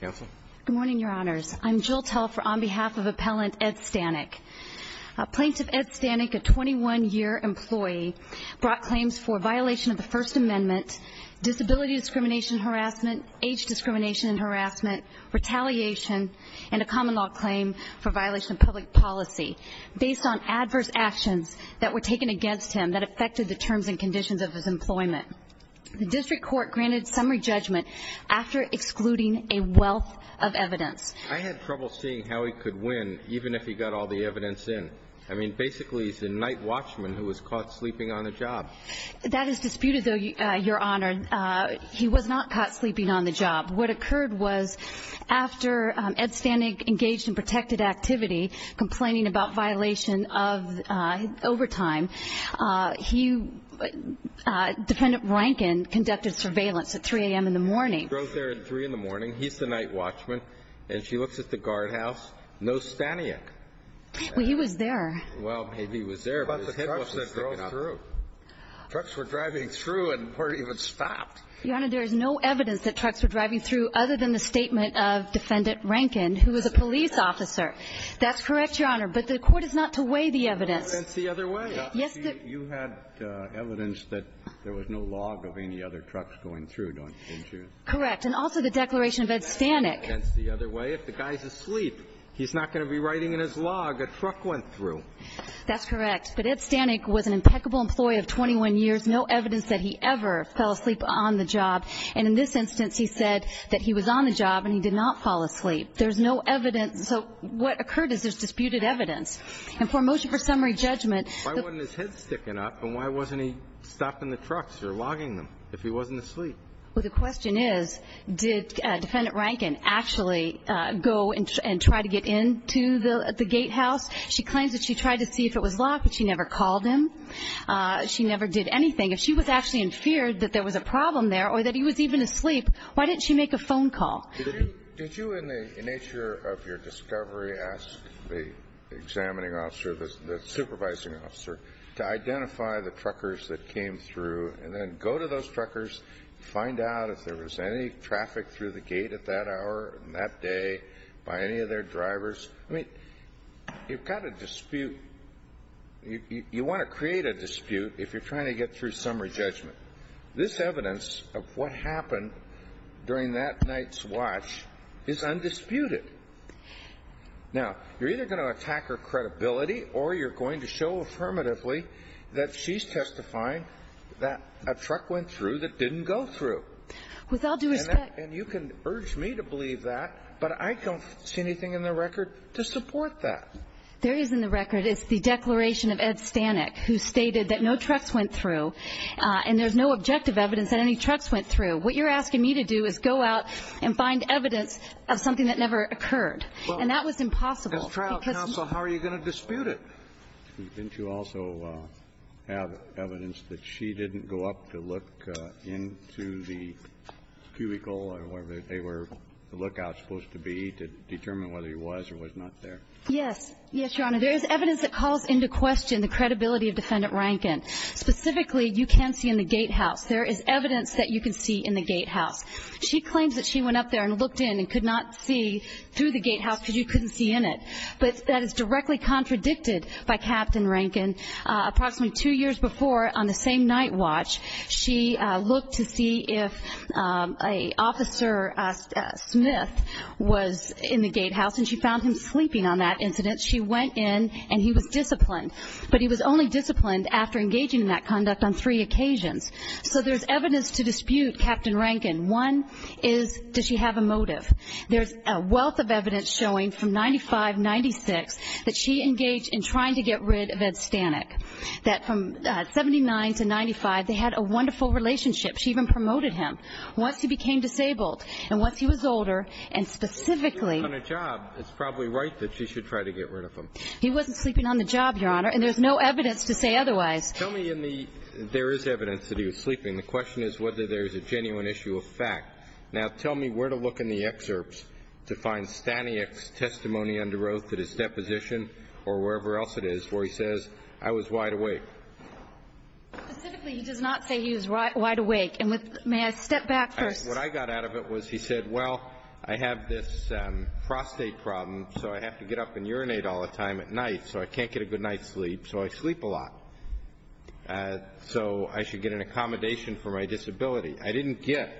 Good morning, Your Honors. I'm Jill Telfer on behalf of Appellant Ed Stanek. Plaintiff Ed Stanek, a 21-year employee, brought claims for violation of the First Amendment, disability discrimination and harassment, age discrimination and harassment, retaliation, and a common law claim for violation of public policy based on adverse actions that were taken against him that affected the terms and conditions of his employment. The District Court granted summary judgment after excluding a wealth of evidence. I had trouble seeing how he could win even if he got all the evidence in. I mean, basically, he's a night watchman who was caught sleeping on the job. That is disputed, though, Your Honor. He was not caught sleeping on the job. What occurred was after Ed Stanek engaged in protected activity, complaining about violation of overtime, he, Defendant Rankin, conducted surveillance against him at 3 a.m. in the morning. He drove there at 3 a.m. in the morning. He's the night watchman. And she looks at the guardhouse. No Staniek. Well, he was there. Well, maybe he was there, but his head wasn't sticking out. What about the trucks that drove through? Trucks were driving through and weren't even stopped. Your Honor, there is no evidence that trucks were driving through other than the statement of Defendant Rankin, who was a police officer. That's correct, Your Honor. But the Court is not to weigh the evidence. Well, then it's the other way. Yes, the You had evidence that there was no log of any other trucks going through, don't you? Correct. And also the declaration of Ed Stanek. That's the other way. If the guy's asleep, he's not going to be writing in his log a truck went through. That's correct. But Ed Stanek was an impeccable employee of 21 years, no evidence that he ever fell asleep on the job. And in this instance, he said that he was on the job and he did not fall asleep. There's no evidence. So what occurred is there's disputed evidence. And for a motion for summary judgment, the Why wasn't his head he wasn't asleep. Well, the question is, did Defendant Rankin actually go and try to get into the gatehouse? She claims that she tried to see if it was locked, but she never called him. She never did anything. If she was actually in fear that there was a problem there or that he was even asleep, why didn't she make a phone call? Did you in the nature of your discovery ask the examining officer, the supervising officer to identify the truckers that came through and then go to those truckers, find out if there was any traffic through the gate at that hour and that day by any of their drivers? I mean, you've got a dispute. You want to create a dispute if you're trying to get through summary judgment. This evidence of what happened during that night's watch is undisputed. Now, you're either going to attack her credibility or you're going to show affirmatively that she's testifying that a truck went through that didn't go through. With all due respect. And you can urge me to believe that, but I don't see anything in the record to support that. There is in the record. It's the declaration of Ed Stanek, who stated that no trucks went through and there's no objective evidence that any trucks went through. What you're asking me to do is go out and find evidence of something that never occurred. And that was impossible. As trial counsel, how are you going to dispute it? Didn't you also have evidence that she didn't go up to look into the cubicle or whatever they were, the lookout, supposed to be to determine whether he was or was not there? Yes. Yes, Your Honor. There is evidence that calls into question the credibility of Defendant Rankin. Specifically, you can see in the gatehouse. There is evidence that you can see in the gatehouse. She claims that she went up there and looked in and could not see through the gatehouse because you couldn't see in it. But that is directly contradicted by Captain Rankin. Approximately two years before, on the same night watch, she looked to see if an officer, Smith, was in the gatehouse and she found him sleeping on that incident. She went in and he was disciplined. But he was only disciplined after engaging in that conduct on three occasions. So there's evidence to dispute Captain Rankin. One is, does she have a motive? There's a wealth of evidence showing from 95, 96, that she engaged in trying to get rid of Ed Stanek. That from 79 to 95, they had a wonderful relationship. She even promoted him. Once he became disabled and once he was older, and specifically He wasn't sleeping on a job. It's probably right that she should try to get rid of him. He wasn't sleeping on the job, Your Honor. And there's no evidence to say otherwise. Tell me in the There is evidence that he was sleeping. The question is whether there is a genuine issue of fact. Now, tell me where to look in the excerpts to find Stanek's testimony under oath that is deposition or wherever else it is where he says, I was wide awake. Specifically, he does not say he was wide awake. And may I step back first? What I got out of it was he said, well, I have this prostate problem, so I have to get up and urinate all the time at night, so I can't get a good night's sleep, so I sleep a lot. So I should get an accommodation for my disability. I didn't get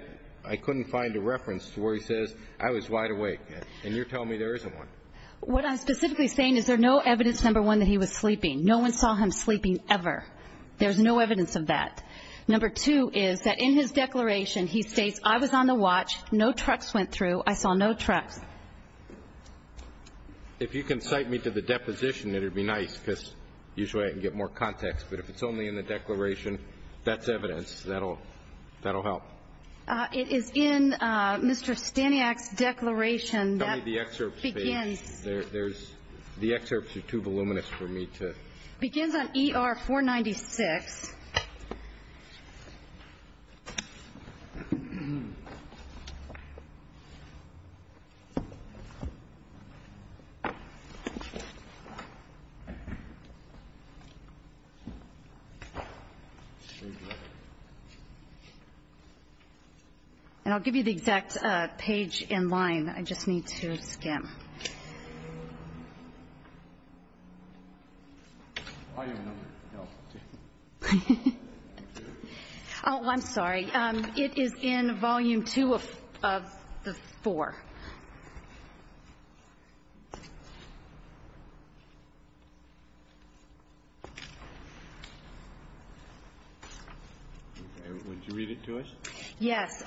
I couldn't find a reference to where he says I was wide awake. And you're telling me there isn't one. What I'm specifically saying is there no evidence, number one, that he was sleeping. No one saw him sleeping ever. There's no evidence of that. Number two is that in his declaration, he states I was on the watch. No trucks went through. I saw no trucks. If you can cite me to the deposition, it would be nice because usually I can get more context. But if it's only in the declaration, that's evidence. That'll help. It is in Mr. Staniak's declaration. Tell me the excerpts, please. The excerpts are too voluminous for me to read. It begins on ER 496. And I'll give you the exact page and line. I just need to skim. Oh, I'm sorry. It is in volume two of the four. Would you read it to us? Yes.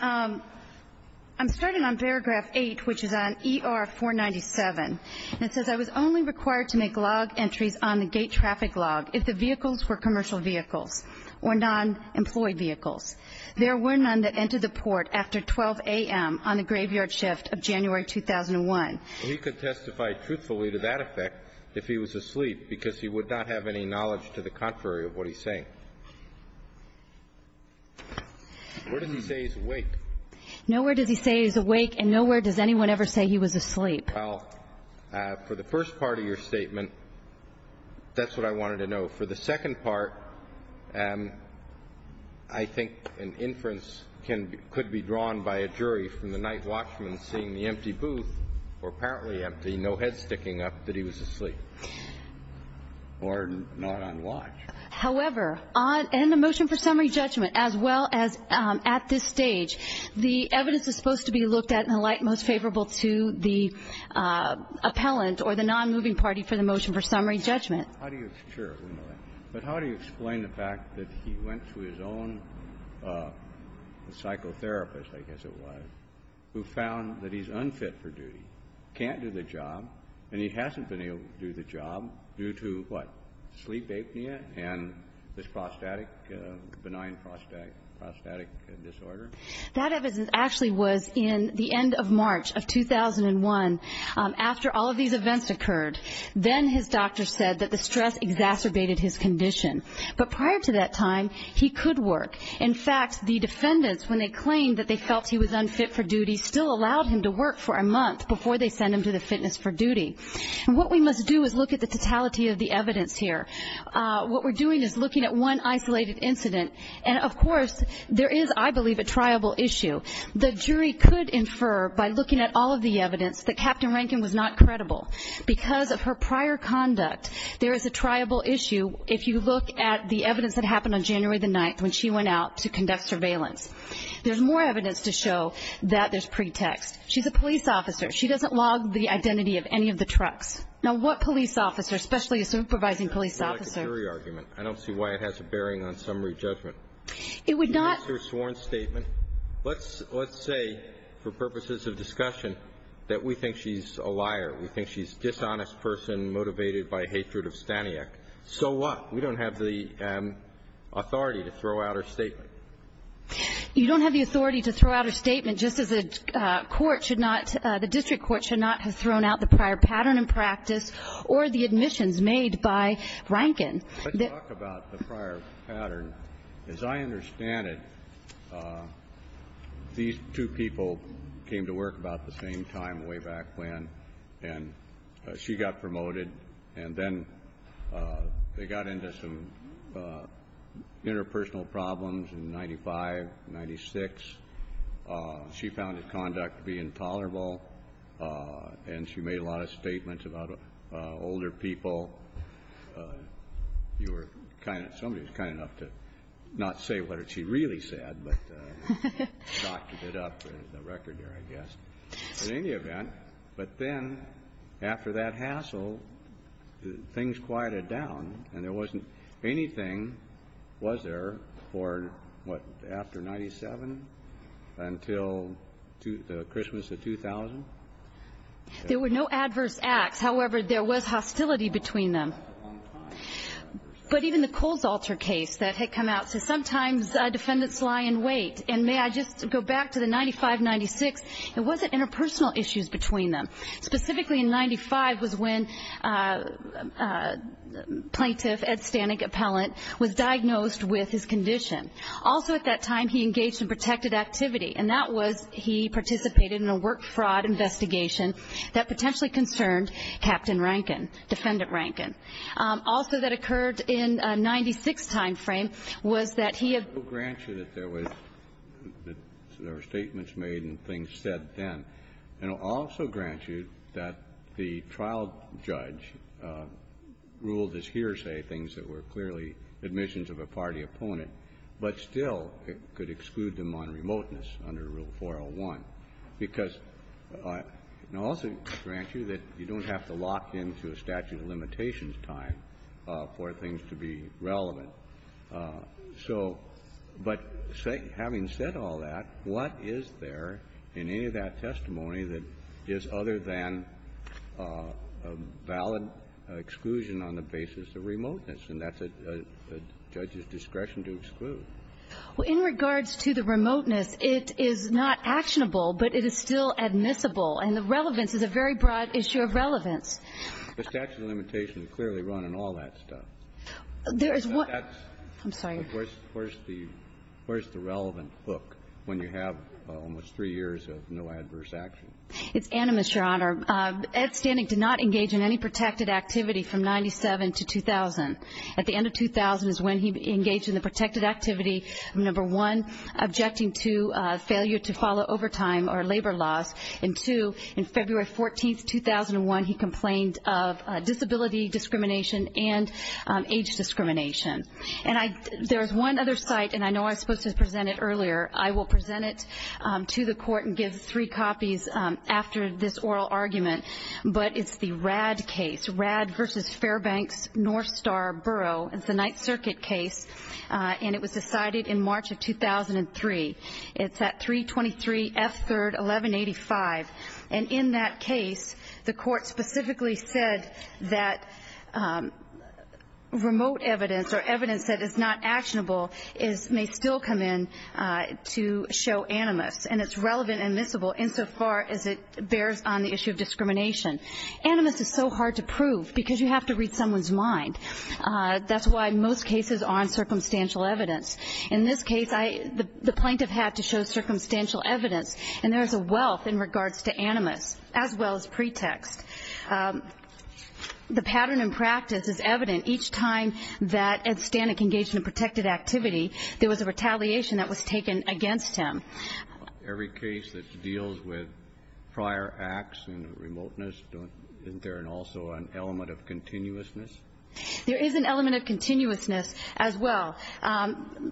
I'm starting on paragraph eight, which is on ER 497. It says I was only required to make log entries on the gate traffic log if the vehicles were commercial vehicles or non-employed vehicles. There were none that entered the port after 12 a.m. on the graveyard shift of January 2001. He could testify truthfully to that effect if he was asleep, because he would not be able to testify to that effect if he was asleep. Where does he say he's awake? Nowhere does he say he's awake, and nowhere does anyone ever say he was asleep. Well, for the first part of your statement, that's what I wanted to know. For the second part, I think an inference could be drawn by a jury from the night watchman seeing the empty booth, or apparently empty, no head sticking up, that he was asleep or not on watch. However, on the motion for summary judgment, as well as at this stage, the evidence is supposed to be looked at in the light most favorable to the appellant or the non-moving party for the motion for summary judgment. How do you explain the fact that he went to his own psychotherapist, I guess it was, who found that he's unfit for duty, can't do the job, and he hasn't been able to do the job due to, what, sleep apnea and this prostatic, benign prostatic disorder? That evidence actually was in the end of March of 2001, after all of these events occurred. Then his doctor said that the stress exacerbated his condition. But prior to that time, he could work. In fact, the defendants, when they claimed that they felt he was unfit for duty, still allowed him to work for a month before they sent him to the fitness for duty. And what we must do is look at the totality of the evidence here. What we're doing is looking at one isolated incident. And, of course, there is, I believe, a triable issue. The jury could infer by looking at all of the evidence that Captain Rankin was not credible. Because of her prior conduct, there is a triable issue if you look at the evidence that happened on January the 9th when she went out to conduct surveillance. There's more evidence to show that there's pretext. She's a police officer. She doesn't log the identity of any of the trucks. Now, what police officer, especially a supervising police officer ---- I don't see why it has a bearing on summary judgment. It would not ---- Let's say for purposes of discussion that we think she's a liar. We think she's a dishonest person motivated by hatred of Staniak. So what? We don't have the authority to throw out her statement. You don't have the authority to throw out her statement just as a court should not ---- the district court should not have thrown out the prior pattern in practice or the admissions made by Rankin. Let's talk about the prior pattern. As I understand it, these two people came to work about the same time way back when, and she got promoted. And then they got into some interpersonal problems in 95, 96. She found his conduct to be intolerable, and she made a lot of statements about older people. You were kind of ---- somebody was kind enough to not say what she really said, but shocked a bit up the record there, I guess. In any event, but then after that hassle, things quieted down, and there wasn't anything, was there, for what, after 97 until the Christmas of 2000? There were no adverse acts. However, there was hostility between them. But even the Coles alter case that had come out. Sometimes defendants lie in wait. And may I just go back to the 95, 96. It wasn't interpersonal issues between them. Specifically in 95 was when Plaintiff Ed Stanek Appellant was diagnosed with his condition. Also at that time, he engaged in protected activity, and that was he participated in a work fraud investigation that potentially concerned Captain Rankin, Defendant Rankin. Also that occurred in 96 time frame was that he had ---- We'll grant you that there were statements made and things said then. And I'll also grant you that the trial judge ruled as hearsay things that were clearly admissions of a party opponent, but still it could exclude them on remoteness under Rule 401, because I'll also grant you that you don't have to lock into a statute of limitations time for things to be relevant. So, but having said all that, what is there in any of that testimony that is other than a valid exclusion on the basis of remoteness? And that's a judge's discretion to exclude. Well, in regards to the remoteness, it is not actionable, but it is still admissible. And the relevance is a very broad issue of relevance. The statute of limitations clearly run in all that stuff. There is one ---- I'm sorry. Where's the relevant book when you have almost three years of no adverse action? It's animus, Your Honor. Ed Stannick did not engage in any protected activity from 97 to 2000. At the end of 2000 is when he engaged in the protected activity, number one, objecting to failure to follow overtime or labor laws. And two, in February 14th, 2001, he complained of disability discrimination and age discrimination. And there's one other site, and I know I was supposed to present it earlier. I will present it to the court and give three copies after this oral argument, but it's the RAD case, RAD v. Fairbanks North Star Borough. It's a Ninth Circuit case, and it was decided in March of 2003. It's at 323 F. 3rd, 1185. And in that case, the court specifically said that remote evidence or evidence that is not actionable may still come in to show animus, and it's relevant and admissible insofar as it bears on the issue of discrimination. Animus is so hard to prove because you have to read someone's mind. That's why most cases aren't circumstantial evidence. In this case, the plaintiff had to show circumstantial evidence, and there is a wealth in regards to animus as well as pretext. The pattern in practice is evident. Each time that Ed Stanek engaged in a protected activity, there was a retaliation that was taken against him. Every case that deals with prior acts and remoteness, isn't there also an element of continuousness? There is an element of continuousness as well.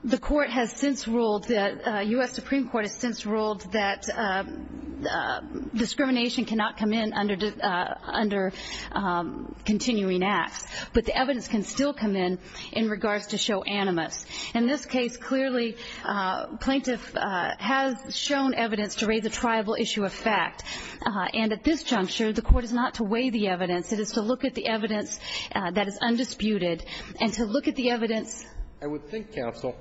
The court has since ruled that the U.S. Supreme Court has since ruled that discrimination cannot come in under continuing acts, but the evidence can still come in in regards to show animus. In this case, clearly, plaintiff has shown evidence to raise a triable issue of fact, and at this juncture, the court is not to weigh the evidence. It is to look at the evidence that is undisputed and to look at the evidence. I would think, counsel,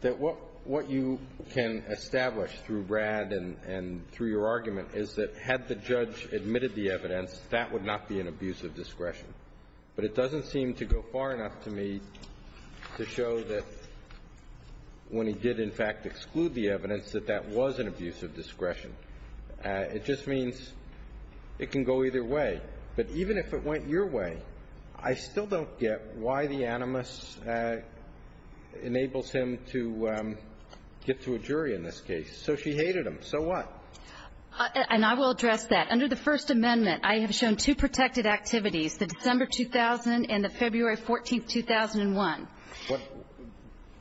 that what you can establish through Brad and through your argument is that had the judge admitted the evidence, that would not be an abuse of discretion. But it doesn't seem to go far enough to me to show that when he did, in fact, exclude the evidence, that that was an abuse of discretion. It just means it can go either way. But even if it went your way, I still don't get why the animus enables him to get to a jury in this case. So she hated him. So what? And I will address that. Under the First Amendment, I have shown two protected activities, the December 2000 and the February 14, 2001.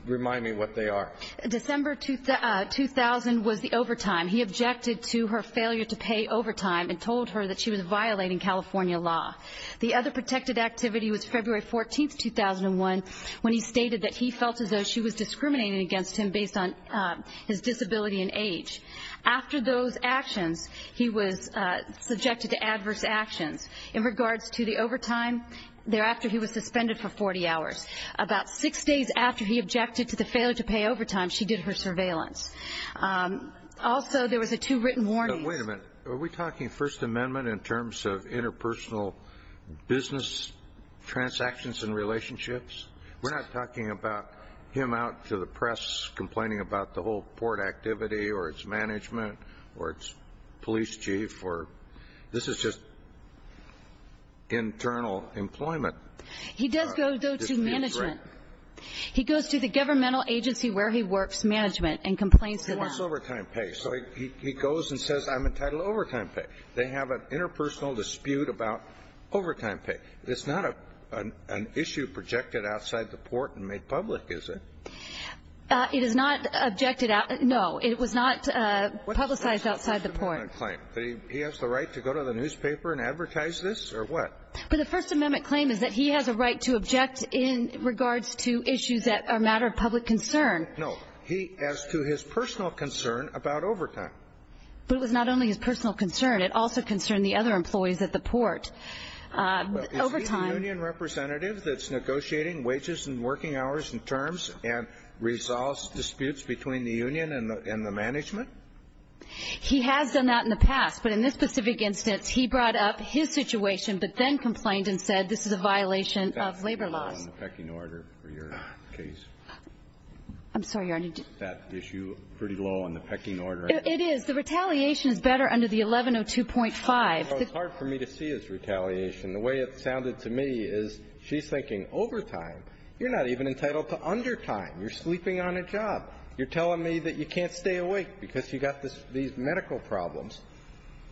Remind me what they are. December 2000 was the overtime. He objected to her failure to pay overtime and told her that she was violating California law. The other protected activity was February 14, 2001, when he stated that he felt as though she was discriminating against him based on his disability and age. After those actions, he was subjected to adverse actions. In regards to the overtime, thereafter he was suspended for 40 hours. About six days after he objected to the failure to pay overtime, she did her surveillance. Also, there was a two-written warning. But wait a minute. Are we talking First Amendment in terms of interpersonal business transactions and relationships? We're not talking about him out to the press complaining about the whole port activity or its management or its police chief or this is just internal employment. He does go to management. He goes to the governmental agency where he works, management, and complains to them. He wants overtime pay. So he goes and says, I'm entitled to overtime pay. They have an interpersonal dispute about overtime pay. It's not an issue projected outside the port and made public, is it? It is not objected out. No. It was not publicized outside the port. He has the right to go to the newspaper and advertise this or what? But the First Amendment claim is that he has a right to object in regards to issues that are a matter of public concern. No. He asked to his personal concern about overtime. But it was not only his personal concern. It also concerned the other employees at the port. Is he the union representative that's negotiating wages and working hours and terms and resolves disputes between the union and the management? He has done that in the past. But in this specific instance, he brought up his situation but then complained and said this is a violation of labor laws. That's pretty low on the pecking order for your case. I'm sorry, Your Honor. Is that issue pretty low on the pecking order? It is. The retaliation is better under the 1102.5. It's hard for me to see his retaliation. The way it sounded to me is she's thinking overtime. You're not even entitled to undertime. You're sleeping on a job. You're telling me that you can't stay awake because you've got these medical problems.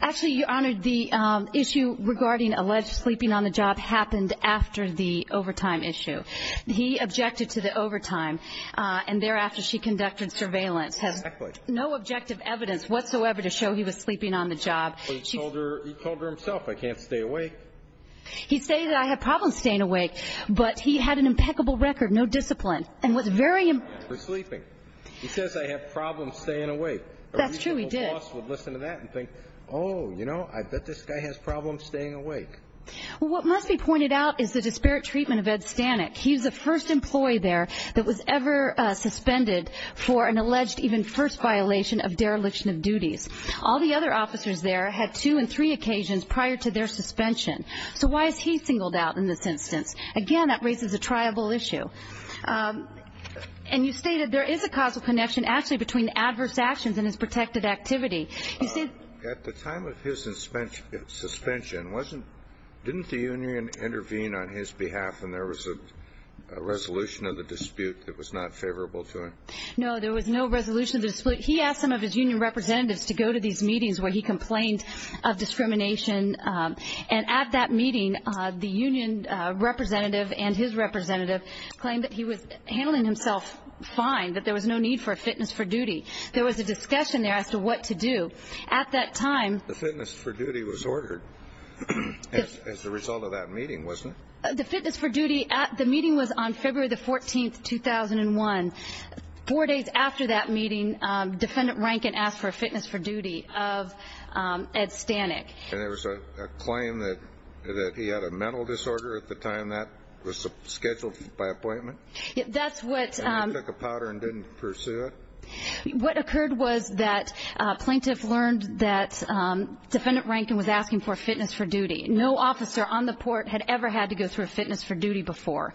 Actually, Your Honor, the issue regarding alleged sleeping on the job happened after the overtime issue. He objected to the overtime, and thereafter she conducted surveillance. Exactly. Has no objective evidence whatsoever to show he was sleeping on the job. But he told her himself, I can't stay awake. He stated that I have problems staying awake. But he had an impeccable record, no discipline, and was very important. For sleeping. He says I have problems staying awake. That's true, he did. My boss would listen to that and think, oh, you know, I bet this guy has problems staying awake. Well, what must be pointed out is the disparate treatment of Ed Stanek. He was the first employee there that was ever suspended for an alleged even first violation of dereliction of duties. All the other officers there had two and three occasions prior to their suspension. So why is he singled out in this instance? Again, that raises a triable issue. And you stated there is a causal connection actually between adverse actions and his protected activity. At the time of his suspension, didn't the union intervene on his behalf and there was a resolution of the dispute that was not favorable to him? No, there was no resolution of the dispute. He asked some of his union representatives to go to these meetings where he complained of discrimination. And at that meeting, the union representative and his representative claimed that he was handling himself fine, that there was no need for a fitness for duty. There was a discussion there as to what to do. At that time. The fitness for duty was ordered as the result of that meeting, wasn't it? The fitness for duty, the meeting was on February the 14th, 2001. Four days after that meeting, Defendant Rankin asked for a fitness for duty of Ed Stanek. And there was a claim that he had a mental disorder at the time that was scheduled by appointment? That's what. And he took a powder and didn't pursue it? What occurred was that a plaintiff learned that Defendant Rankin was asking for a fitness for duty. No officer on the court had ever had to go through a fitness for duty before.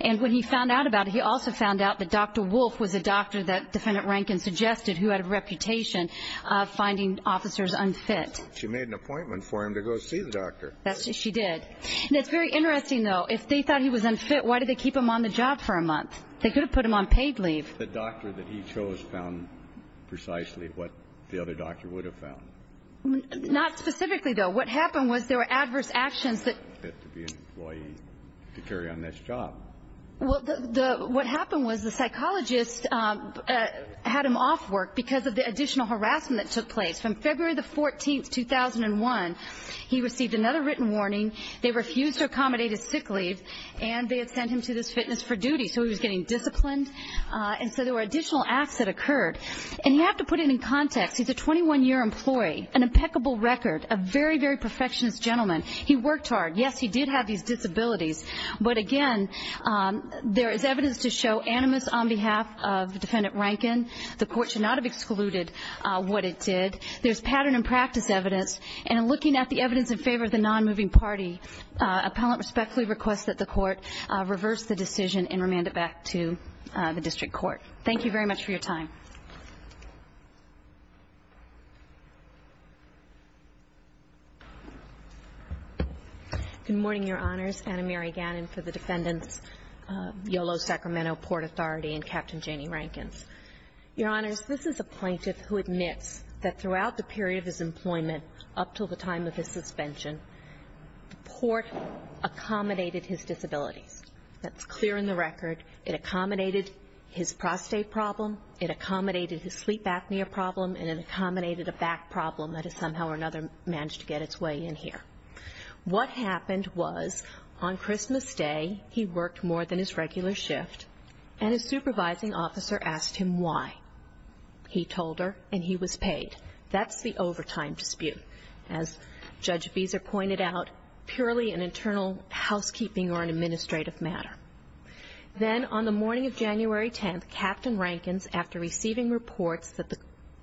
And when he found out about it, he also found out that Dr. Wolf was a doctor that Defendant Rankin suggested who had a reputation of finding officers unfit. She made an appointment for him to go see the doctor. She did. And it's very interesting, though. If they thought he was unfit, why did they keep him on the job for a month? They could have put him on paid leave. The doctor that he chose found precisely what the other doctor would have found. Not specifically, though. What happened was there were adverse actions that. To be an employee, to carry on this job. Well, what happened was the psychologist had him off work because of the additional harassment that took place. From February the 14th, 2001, he received another written warning. They refused to accommodate his sick leave, and they had sent him to this fitness for duty. So he was getting disciplined. And so there were additional acts that occurred. And you have to put it in context. He's a 21-year employee, an impeccable record, a very, very perfectionist gentleman. He worked hard. Yes, he did have these disabilities. But, again, there is evidence to show animus on behalf of Defendant Rankin. The Court should not have excluded what it did. There's pattern and practice evidence. And in looking at the evidence in favor of the non-moving party, appellant respectfully requests that the Court reverse the decision and remand it back to the District Court. Thank you very much for your time. Good morning, Your Honors. Anna Mary Gannon for the Defendants, Yolo-Sacramento Port Authority, and Captain Janie Rankins. Your Honors, this is a plaintiff who admits that throughout the period of his employment, up until the time of his suspension, the Port accommodated his disabilities. That's clear in the record. It accommodated his prostate problem. It accommodated his sleep apnea problem. And it accommodated a back problem that has somehow or another managed to get its way in here. What happened was, on Christmas Day, he worked more than his regular shift, and his supervising officer asked him why. He told her, and he was paid. That's the overtime dispute. As Judge Beezer pointed out, purely an internal housekeeping or an administrative matter. Then on the morning of January 10th, Captain Rankins, after receiving reports that the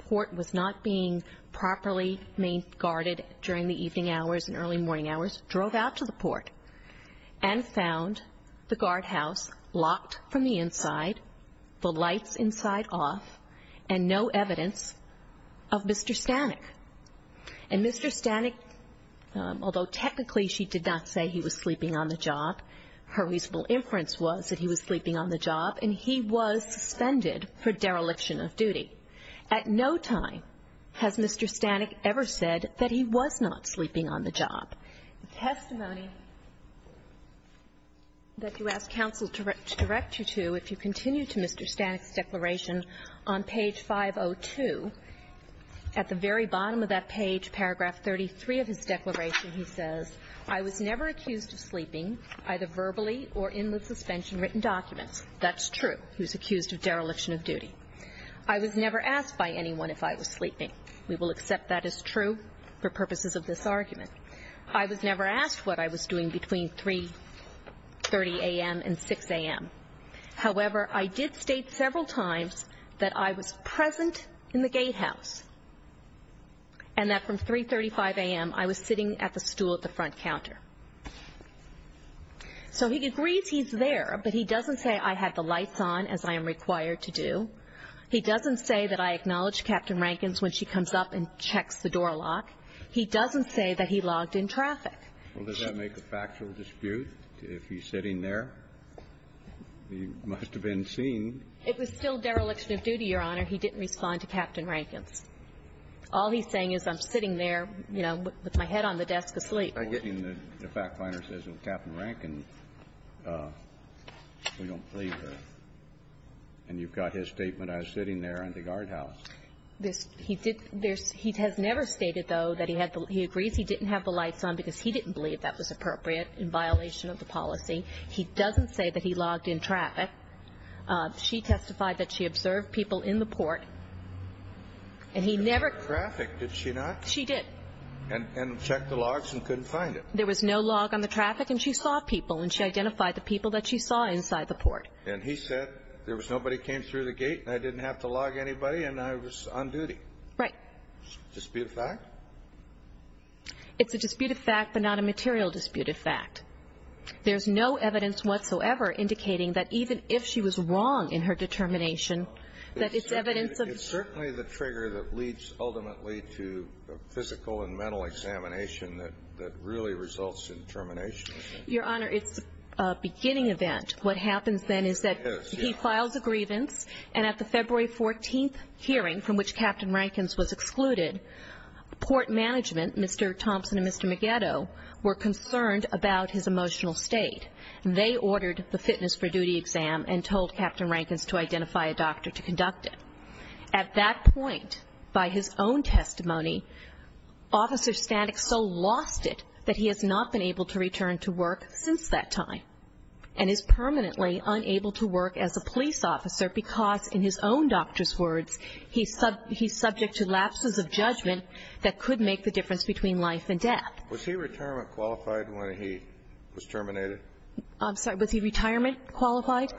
Port was not being properly guarded during the evening hours and early morning hours, drove out to the Port and found the guardhouse locked from the inside, the lights inside off, and no evidence of Mr. Stanek. And Mr. Stanek, although technically she did not say he was sleeping on the job, her reasonable inference was that he was sleeping on the job, and he was suspended for dereliction of duty. At no time has Mr. Stanek ever said that he was not sleeping on the job. The testimony that you ask counsel to direct you to, if you continue to Mr. Stanek's declaration on page 502, at the very bottom of that page, paragraph 33 of his declaration, he says, I was never accused of sleeping, either verbally or in the suspension-written documents. That's true. He was accused of dereliction of duty. I was never asked by anyone if I was sleeping. We will accept that as true for purposes of this argument. I was never asked what I was doing between 3.30 a.m. and 6 a.m. However, I did state several times that I was present in the gatehouse and that from 3.35 a.m. I was sitting at the stool at the front counter. So he agrees he's there, but he doesn't say I had the lights on, as I am required to do. He doesn't say that I acknowledged Captain Rankins when she comes up and checks the door lock. He doesn't say that he logged in traffic. Well, does that make a factual dispute, if he's sitting there? He must have been seen. It was still dereliction of duty, Your Honor. He didn't respond to Captain Rankins. All he's saying is I'm sitting there, you know, with my head on the desk asleep. The fact finder says, Captain Rankin, we don't believe her. And you've got his statement, I was sitting there in the guardhouse. He has never stated, though, that he agrees he didn't have the lights on because he didn't believe that was appropriate in violation of the policy. He doesn't say that he logged in traffic. She testified that she observed people in the port, and he never ---- She didn't log in traffic, did she not? She did. And checked the logs and couldn't find it. There was no log on the traffic, and she saw people, and she identified the people that she saw inside the port. And he said there was nobody came through the gate, and I didn't have to log anybody, and I was on duty. Right. Dispute of fact? It's a disputed fact, but not a material disputed fact. There's no evidence whatsoever indicating that even if she was wrong in her determination, that it's evidence of ---- It's certainly the trigger that leads ultimately to physical and mental examination that really results in termination. Your Honor, it's a beginning event. What happens then is that he files a grievance, and at the February 14th hearing from which Captain Rankin was excluded, port management, Mr. Thompson and Mr. Maggetto, were concerned about his emotional state. They ordered the fitness for duty exam and told Captain Rankin to identify a doctor to conduct it. At that point, by his own testimony, Officer Stanek so lost it that he has not been able to return to work since that time and is permanently unable to work as a police officer because, in his own doctor's words, he's subject to lapses of judgment that could make the difference between life and death. Was he retirement qualified when he was terminated? I'm sorry. Was he retirement qualified?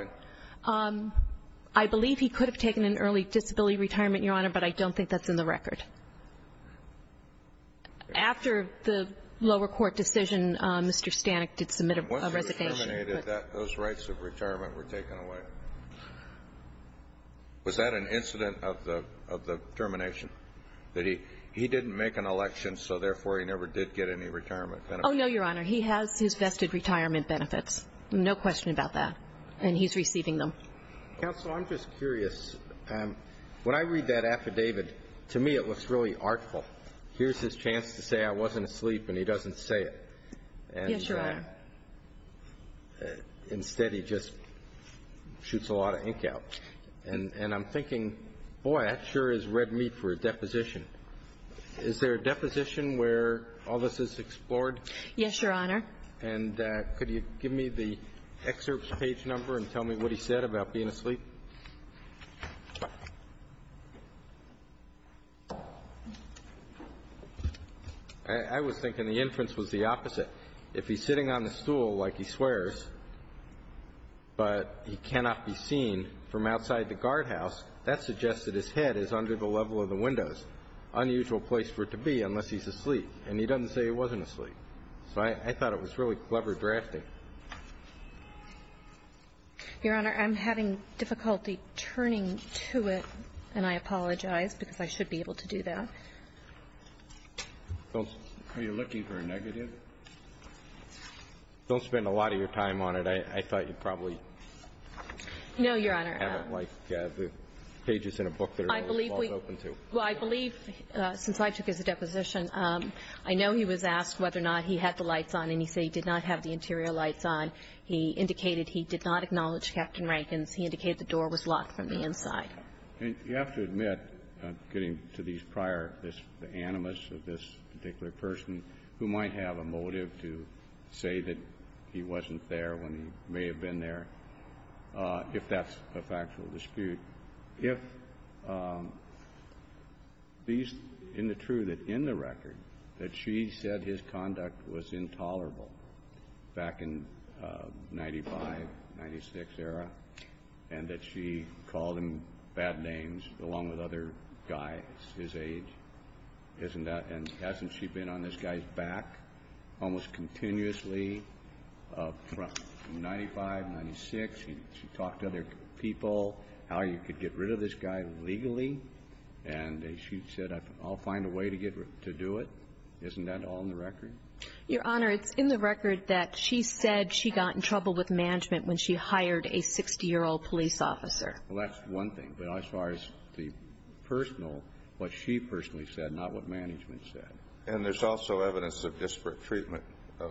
I believe he could have taken an early disability retirement, Your Honor, but I don't think that's in the record. After the lower court decision, Mr. Stanek did submit a resignation. Once he was terminated, those rights of retirement were taken away. Was that an incident of the termination, that he didn't make an election, so therefore he never did get any retirement benefits? Oh, no, Your Honor. He has his vested retirement benefits, no question about that, and he's receiving them. Counsel, I'm just curious. When I read that affidavit, to me it looks really artful. Here's his chance to say, I wasn't asleep, and he doesn't say it. Yes, Your Honor. Instead, he just shoots a lot of ink out. And I'm thinking, boy, that sure is red meat for a deposition. Is there a deposition where all this is explored? Yes, Your Honor. And could you give me the excerpt's page number and tell me what he said about being asleep? I was thinking the inference was the opposite. If he's sitting on the stool like he swears, but he cannot be seen from outside the guardhouse, that suggests that his head is under the level of the windows, unusual place for it to be unless he's asleep. And he doesn't say he wasn't asleep. So I thought it was really clever drafting. Your Honor, I'm having difficulty turning to it, and I apologize because I should be able to do that. Are you looking for a negative? Don't spend a lot of your time on it. I thought you'd probably have it like the pages in a book that are always open to. Well, I believe, since I took his deposition, I know he was asked whether or not he had the lights on, and he said he did not have the interior lights on. He indicated he did not acknowledge Captain Rankin's. He indicated the door was locked from the inside. You have to admit, getting to these prior animus of this particular person, who might have a motive to say that he wasn't there when he may have been there, if that's a factual dispute, if these, in the truth, in the record, that she said his conduct was intolerable back in 95, 96 era, and that she called him bad names along with other guys his age, isn't that? And hasn't she been on this guy's back almost continuously from 95, 96? She talked to other people how you could get rid of this guy legally, and she said, I'll find a way to do it. Isn't that all in the record? Your Honor, it's in the record that she said she got in trouble with management when she hired a 60-year-old police officer. Well, that's one thing. But as far as the personal, what she personally said, not what management said. And there's also evidence of disparate treatment of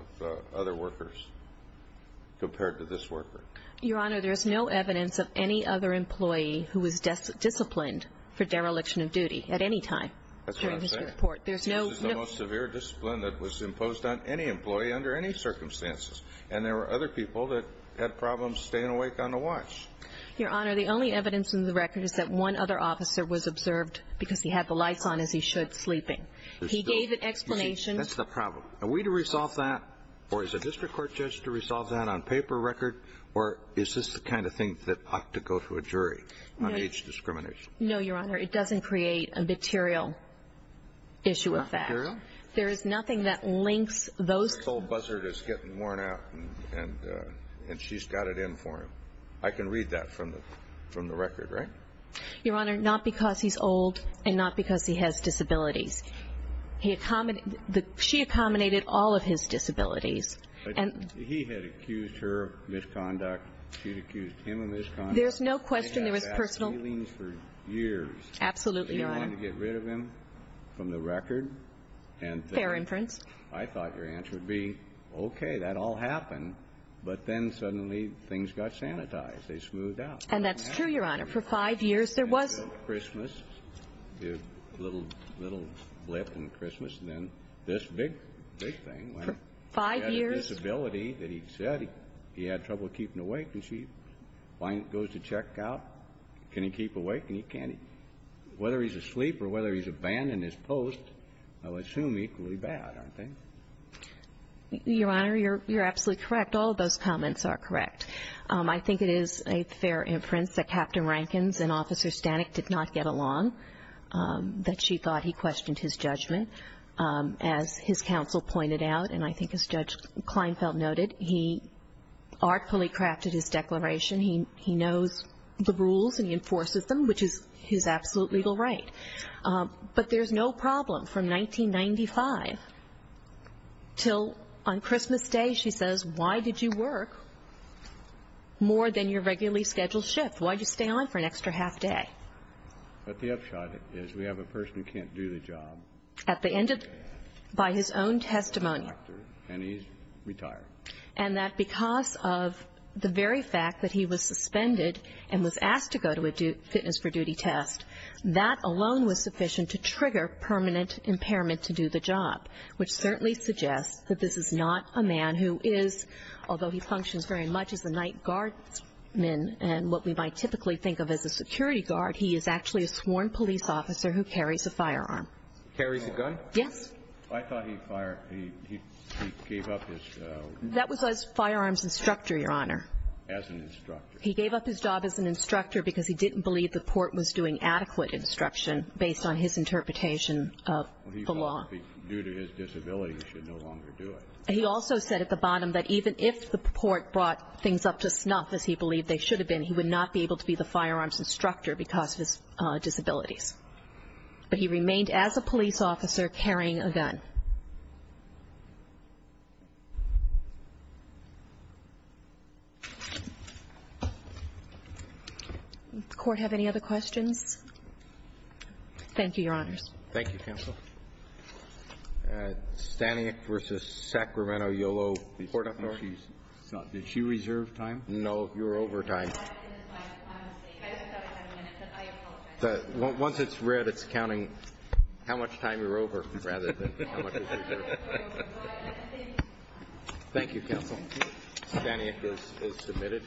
other workers compared to this worker. Your Honor, there is no evidence of any other employee who was disciplined That's what I'm saying. This is the most severe discipline that was imposed on any employee under any circumstances, and there were other people that had problems staying awake on the watch. Your Honor, the only evidence in the record is that one other officer was observed because he had the lights on as he should sleeping. He gave an explanation. That's the problem. Are we to resolve that, or is a district court judge to resolve that on paper record, or is this the kind of thing that ought to go to a jury on age discrimination? No, Your Honor. It doesn't create a material issue of that. There is nothing that links those This old buzzard is getting worn out, and she's got it in for him. I can read that from the record, right? Your Honor, not because he's old and not because he has disabilities. She accommodated all of his disabilities. He had accused her of misconduct. She had accused him of misconduct. There's no question there was personal They had bad feelings for years. Absolutely, Your Honor. They wanted to get rid of him from the record. Fair inference. I thought your answer would be, okay, that all happened, but then suddenly things got sanitized. They smoothed out. And that's true, Your Honor. For five years there was Christmas, a little blip in Christmas, and then this big, big thing. For five years disability that he said he had trouble keeping awake. And she goes to check out. Can he keep awake? And he can't. Whether he's asleep or whether he's abandoned his post, I would assume equally bad, aren't they? Your Honor, you're absolutely correct. All of those comments are correct. I think it is a fair inference that Captain Rankins and Officer Stanek did not get along, that she thought he questioned his judgment. As his counsel pointed out, and I think as Judge Kleinfeld noted, he artfully crafted his declaration. He knows the rules and he enforces them, which is his absolute legal right. But there's no problem from 1995 until on Christmas Day she says, why did you work more than your regularly scheduled shift? Why did you stay on for an extra half day? But the upshot is we have a person who can't do the job. At the end of, by his own testimony. And he's retired. And that because of the very fact that he was suspended and was asked to go to a fitness for duty test, that alone was sufficient to trigger permanent impairment to do the job, which certainly suggests that this is not a man who is, although he functions very much as a night guardman and what we might typically think of as a security guard, he is actually a sworn police officer who carries a firearm. Carries a gun? Yes. I thought he fired, he gave up his. That was as firearms instructor, Your Honor. As an instructor. He gave up his job as an instructor because he didn't believe the port was doing adequate instruction based on his interpretation of the law. Due to his disability, he should no longer do it. He also said at the bottom that even if the port brought things up to snuff, as he believed they should have been, he would not be able to be the firearms instructor because of his disabilities. But he remained as a police officer carrying a gun. Does the Court have any other questions? Thank you, Your Honors. Thank you, Counsel. Stanek v. Sacramento Yolo. Did she reserve time? No, you're over time. Once it's read, it's counting how much time you're over rather than how much is reserved. Thank you, Counsel. Stanek is submitted.